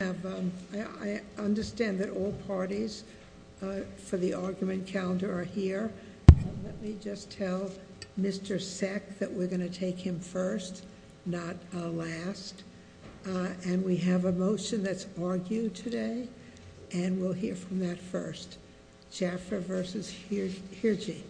I understand that all parties for the argument calendar are here. Let me just tell Mr. Sec that we're going to take him first, not last, and we have a motion that's argued today and we'll hear from that first. Jaffer v. Hirji.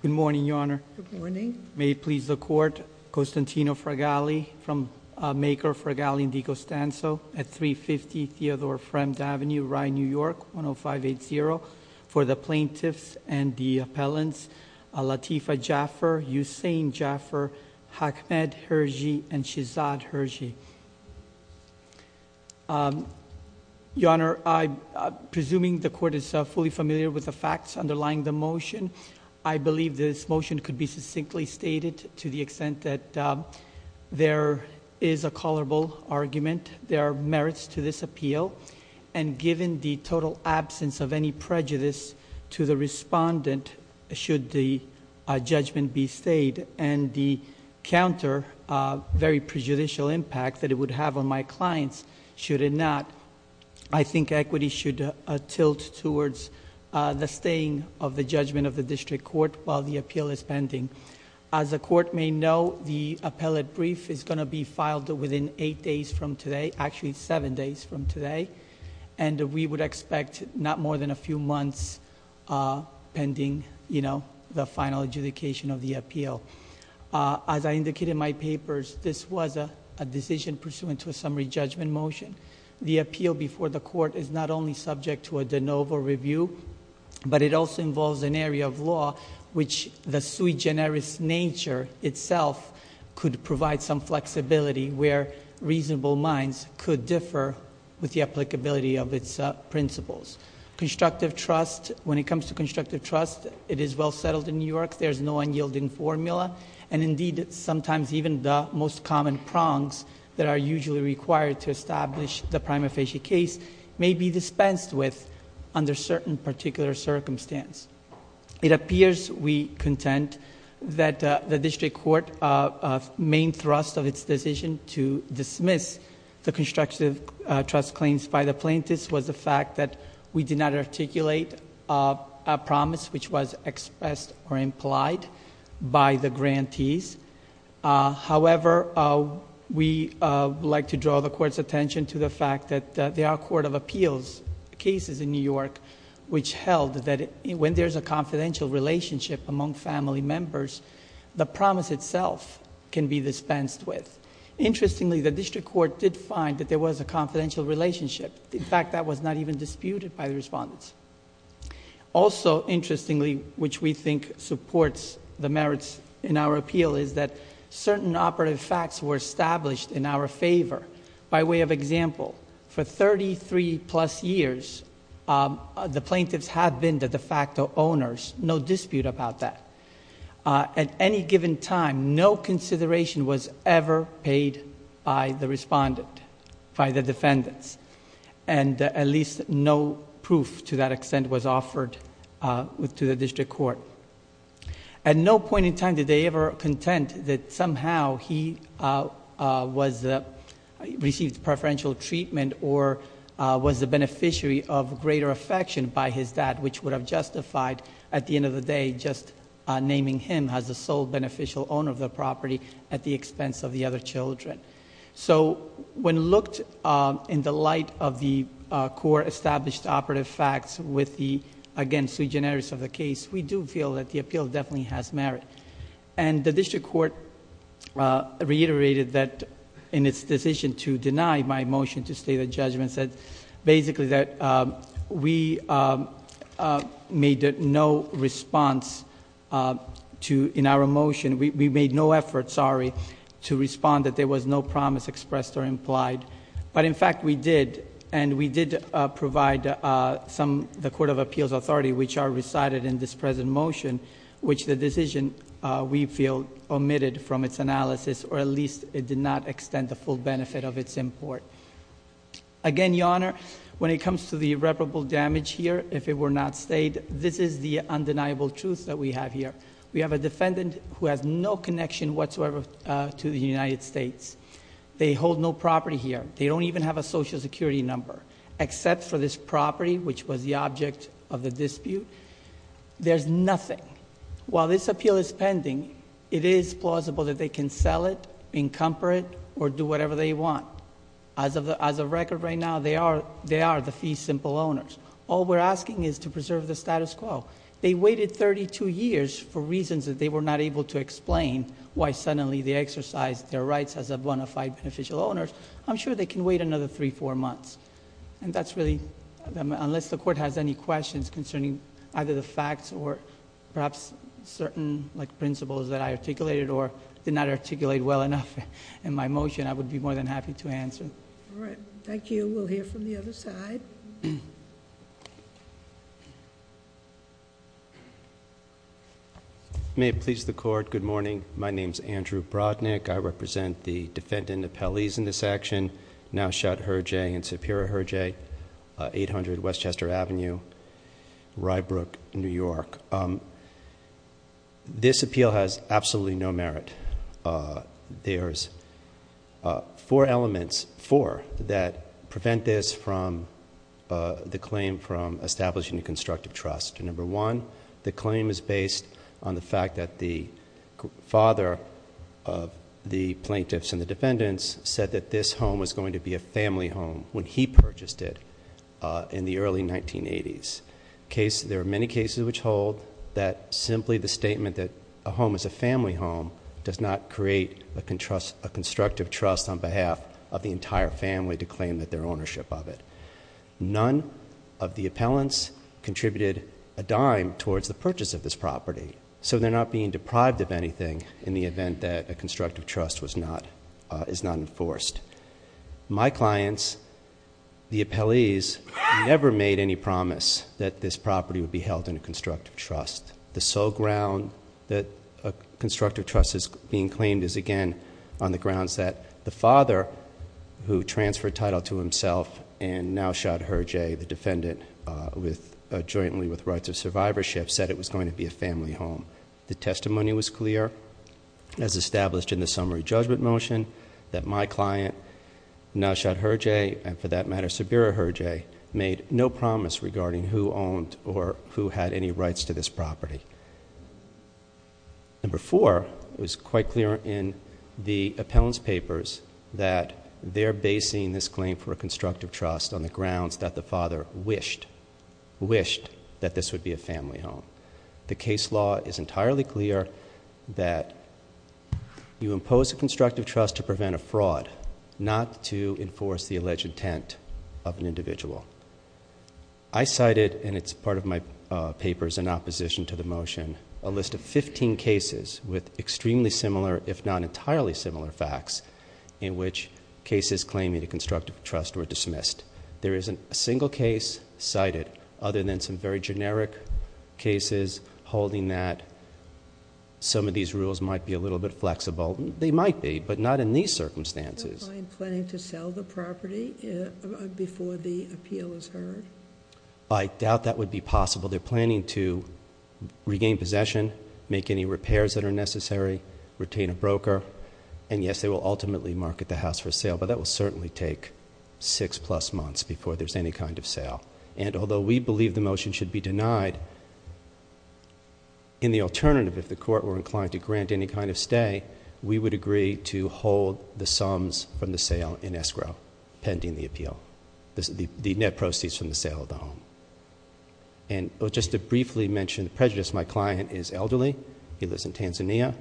Good morning, Your Honor. Good morning. May it please the Court, Costantino Fragali, from maker Fragali & DiCostanzo at 350 Theodore Fremd Avenue, Rye, New York, 10580, for the plaintiffs and the appellants Latifa Jaffer, Usain Jaffer, Ahmed Hirji, and Shehzad Hirji. Your Honor, I'm presuming the Court is fully familiar with the facts underlying the motion. I believe this motion could be succinctly stated to the extent that there is a callable argument. There are merits to this appeal, and given the total absence of any prejudice to the respondent should the judgment be stayed, and the counter, very prejudicial impact that it would have on my clients should it not, I think equity should tilt towards the staying of the judgment of the district court while the appeal is pending. As the Court may know, the appellate brief is going to be filed within eight days from today, and we would expect not more than a few months pending the final adjudication of the appeal. As I indicated in my papers, this was a decision pursuant to a summary judgment motion. The appeal before the Court is not only subject to a de novo review, but it also involves an area of law which the sui generis nature itself could provide some with the applicability of its principles. Constructive trust, when it comes to constructive trust, it is well settled in New York. There's no unyielding formula, and indeed sometimes even the most common prongs that are usually required to establish the prima facie case may be dispensed with under certain particular circumstance. It appears, we contend, that the district court main thrust of its decision to dismiss the constructive trust claims by the plaintiffs was the fact that we did not articulate a promise which was expressed or implied by the grantees. However, we like to draw the Court's attention to the fact that there are court of appeals cases in New York which held that when there's a confidential relationship among family members, the promise itself can be dispensed with. Interestingly, the district court did find that there was a confidential relationship. In fact, that was not even disputed by the respondents. Also interestingly, which we think supports the merits in our appeal is that certain operative facts were established in our favor. By way of example, for thirty-three plus years, the time, no consideration was ever paid by the respondent, by the defendants, and at least no proof to that extent was offered to the district court. At no point in time did they ever contend that somehow he received preferential treatment or was a beneficiary of greater affection by his dad, which would have justified at the end of the day just naming him as the sole beneficial owner of the property at the expense of the other children. When looked in the light of the court-established operative facts with the, again, sui generis of the case, we do feel that the appeal definitely has merit. The district court reiterated that in its decision to deny my motion to state a judgment, said basically that we made no response in our motion. We made no effort, sorry, to respond that there was no promise expressed or implied. But in fact, we did, and we did provide the Court of Appeals Authority, which are recited in this present motion, which the decision, we feel, omitted from its analysis, or at least it did not extend the full benefit of its import. Again, Your Honor, when it comes to the irreparable damage here, if it were not stated, this is the undeniable truth that we have here. We have a defendant who has no connection whatsoever to the United States. They hold no property here. They don't even have a Social Security number except for this property, which was the object of the dispute. There's nothing. While this appeal is pending, it is plausible that they can sell it, encumber it, or do whatever they want. As of record right now, they are the fee simple owners. All we're asking is to preserve the status quo. They waited thirty-two years for reasons that they were not able to explain why suddenly they exercised their rights as a bona fide beneficial owner. I'm sure they can wait another three, four months. That's really... unless the Court has any questions concerning either the facts or perhaps certain principles that I articulated or did not articulate well enough in my motion, I would be more than happy to answer. All right. Thank you. We'll hear from the other side. May it please the Court, good morning. My name is Andrew Brodnick. I represent the defendant appellees in this action, now shot Herjee and Sapira Herjee, 800 Westchester Avenue, Ryebrook, New York. This appeal has absolutely no merit. There's four elements... four that prevent this claim from establishing a constructive trust. Number one, the claim is based on the fact that the father of the plaintiffs and the defendants said that this home was going to be a family home when he purchased it in the early 1980s. There are many cases which hold that simply the statement that a home is a family home does not create a constructive trust on behalf of the entire family to claim that their ownership of it. None of the appellants contributed a dime towards the purchase of this property, so they're not being deprived of anything in the event that a constructive trust is not enforced. My clients, the appellees, never made any promise that this property would be held in a constructive trust. The sole ground that a constructive trust is being claimed is, again, on the grounds that the father, who transferred title to himself and now shot Herjee, the defendant, jointly with Rights of Survivorship, said it was going to be a family home. The testimony was clear, as established in the summary judgment motion, that my client, now shot Herjee, and for that matter, Sabira Herjee, made no promise regarding who owned or who had any rights to this property. Number four, it was quite clear in the appellant's papers that they're basing this claim for a constructive trust on the grounds that the father wished, wished that this would be a family home. I cited, and it's part of my papers in opposition to the motion, a list of fifteen cases with extremely similar, if not entirely similar, facts in which cases claiming a constructive trust were dismissed. There isn't a single case cited other than some very generic cases holding that some of these rules might be a little bit flexible. They might be, but not in these circumstances. Are you planning to sell the property before the appeal is heard? I doubt that would be possible. They're planning to regain possession, make any repairs that are necessary, retain a broker, and yes, they will ultimately market the house for sale, but that will certainly take six plus months before there's any kind of sale. And although we believe the motion should be denied, in the alternative, if the court were inclined to grant any kind of stay, we would agree to hold the sums from the sale in escrow pending the appeal, the net proceeds from the sale of the home. And just to briefly mention the prejudice, my client is elderly. He lives in Tanzania.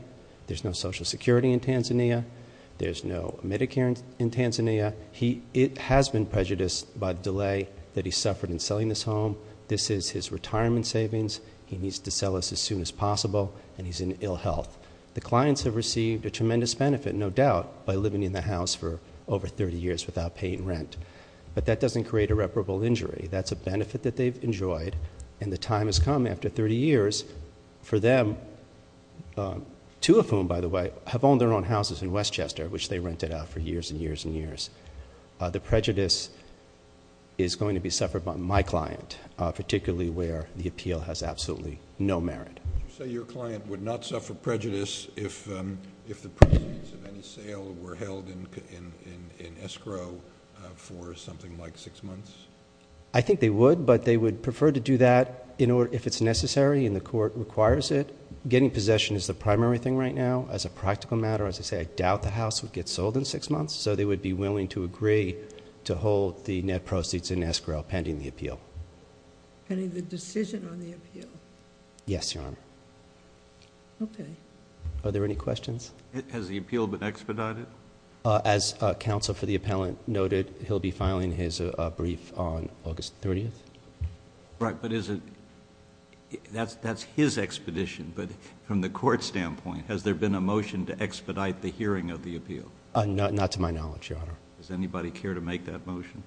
There's no Social Security in Tanzania. There's no Medicare in Tanzania. It has been prejudiced by the delay that he suffered in selling this home. This is his retirement savings. He needs to sell this as soon as possible, and he's in ill health. The clients have received a tremendous benefit, no doubt, by living in the house for over 30 years without paying rent, but that doesn't create irreparable injury. That's a benefit that they've enjoyed, and the time has come after 30 years for them, two of whom, by the way, have owned their own houses in Westchester, which they rented out for years and years and years. The prejudice is going to be suffered by my client, particularly where the appeal has absolutely no merit. You say your client would not suffer prejudice if the proceeds of any sale were held in escrow for something like six months? I think they would, but they would prefer to do that if it's necessary and the court requires it. Getting possession is the primary thing right now. As a practical matter, as I say, I doubt the house would get sold in six months, so they would be willing to agree to hold the net proceeds in escrow pending the appeal. Pending the decision on the appeal? Yes, Your Honor. Okay. Are there any questions? Has the appeal been expedited? As counsel for the appellant noted, he'll be filing his brief on August 30th. Right, but is it... that's his expedition, but from the court standpoint, has there been a motion to expedite the hearing of the appeal? Not to my knowledge, Your Honor. Does anybody care to make that motion?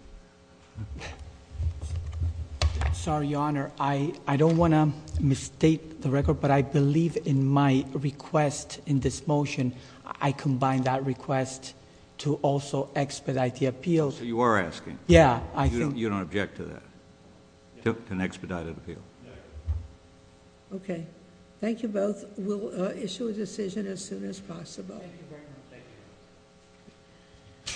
Sorry, Your Honor. I don't want to misstate the record, but I believe in my request in this motion, I combined that request to also expedite the appeal. So you are asking? Yeah, I think... You don't object to that, to an expedited appeal? No.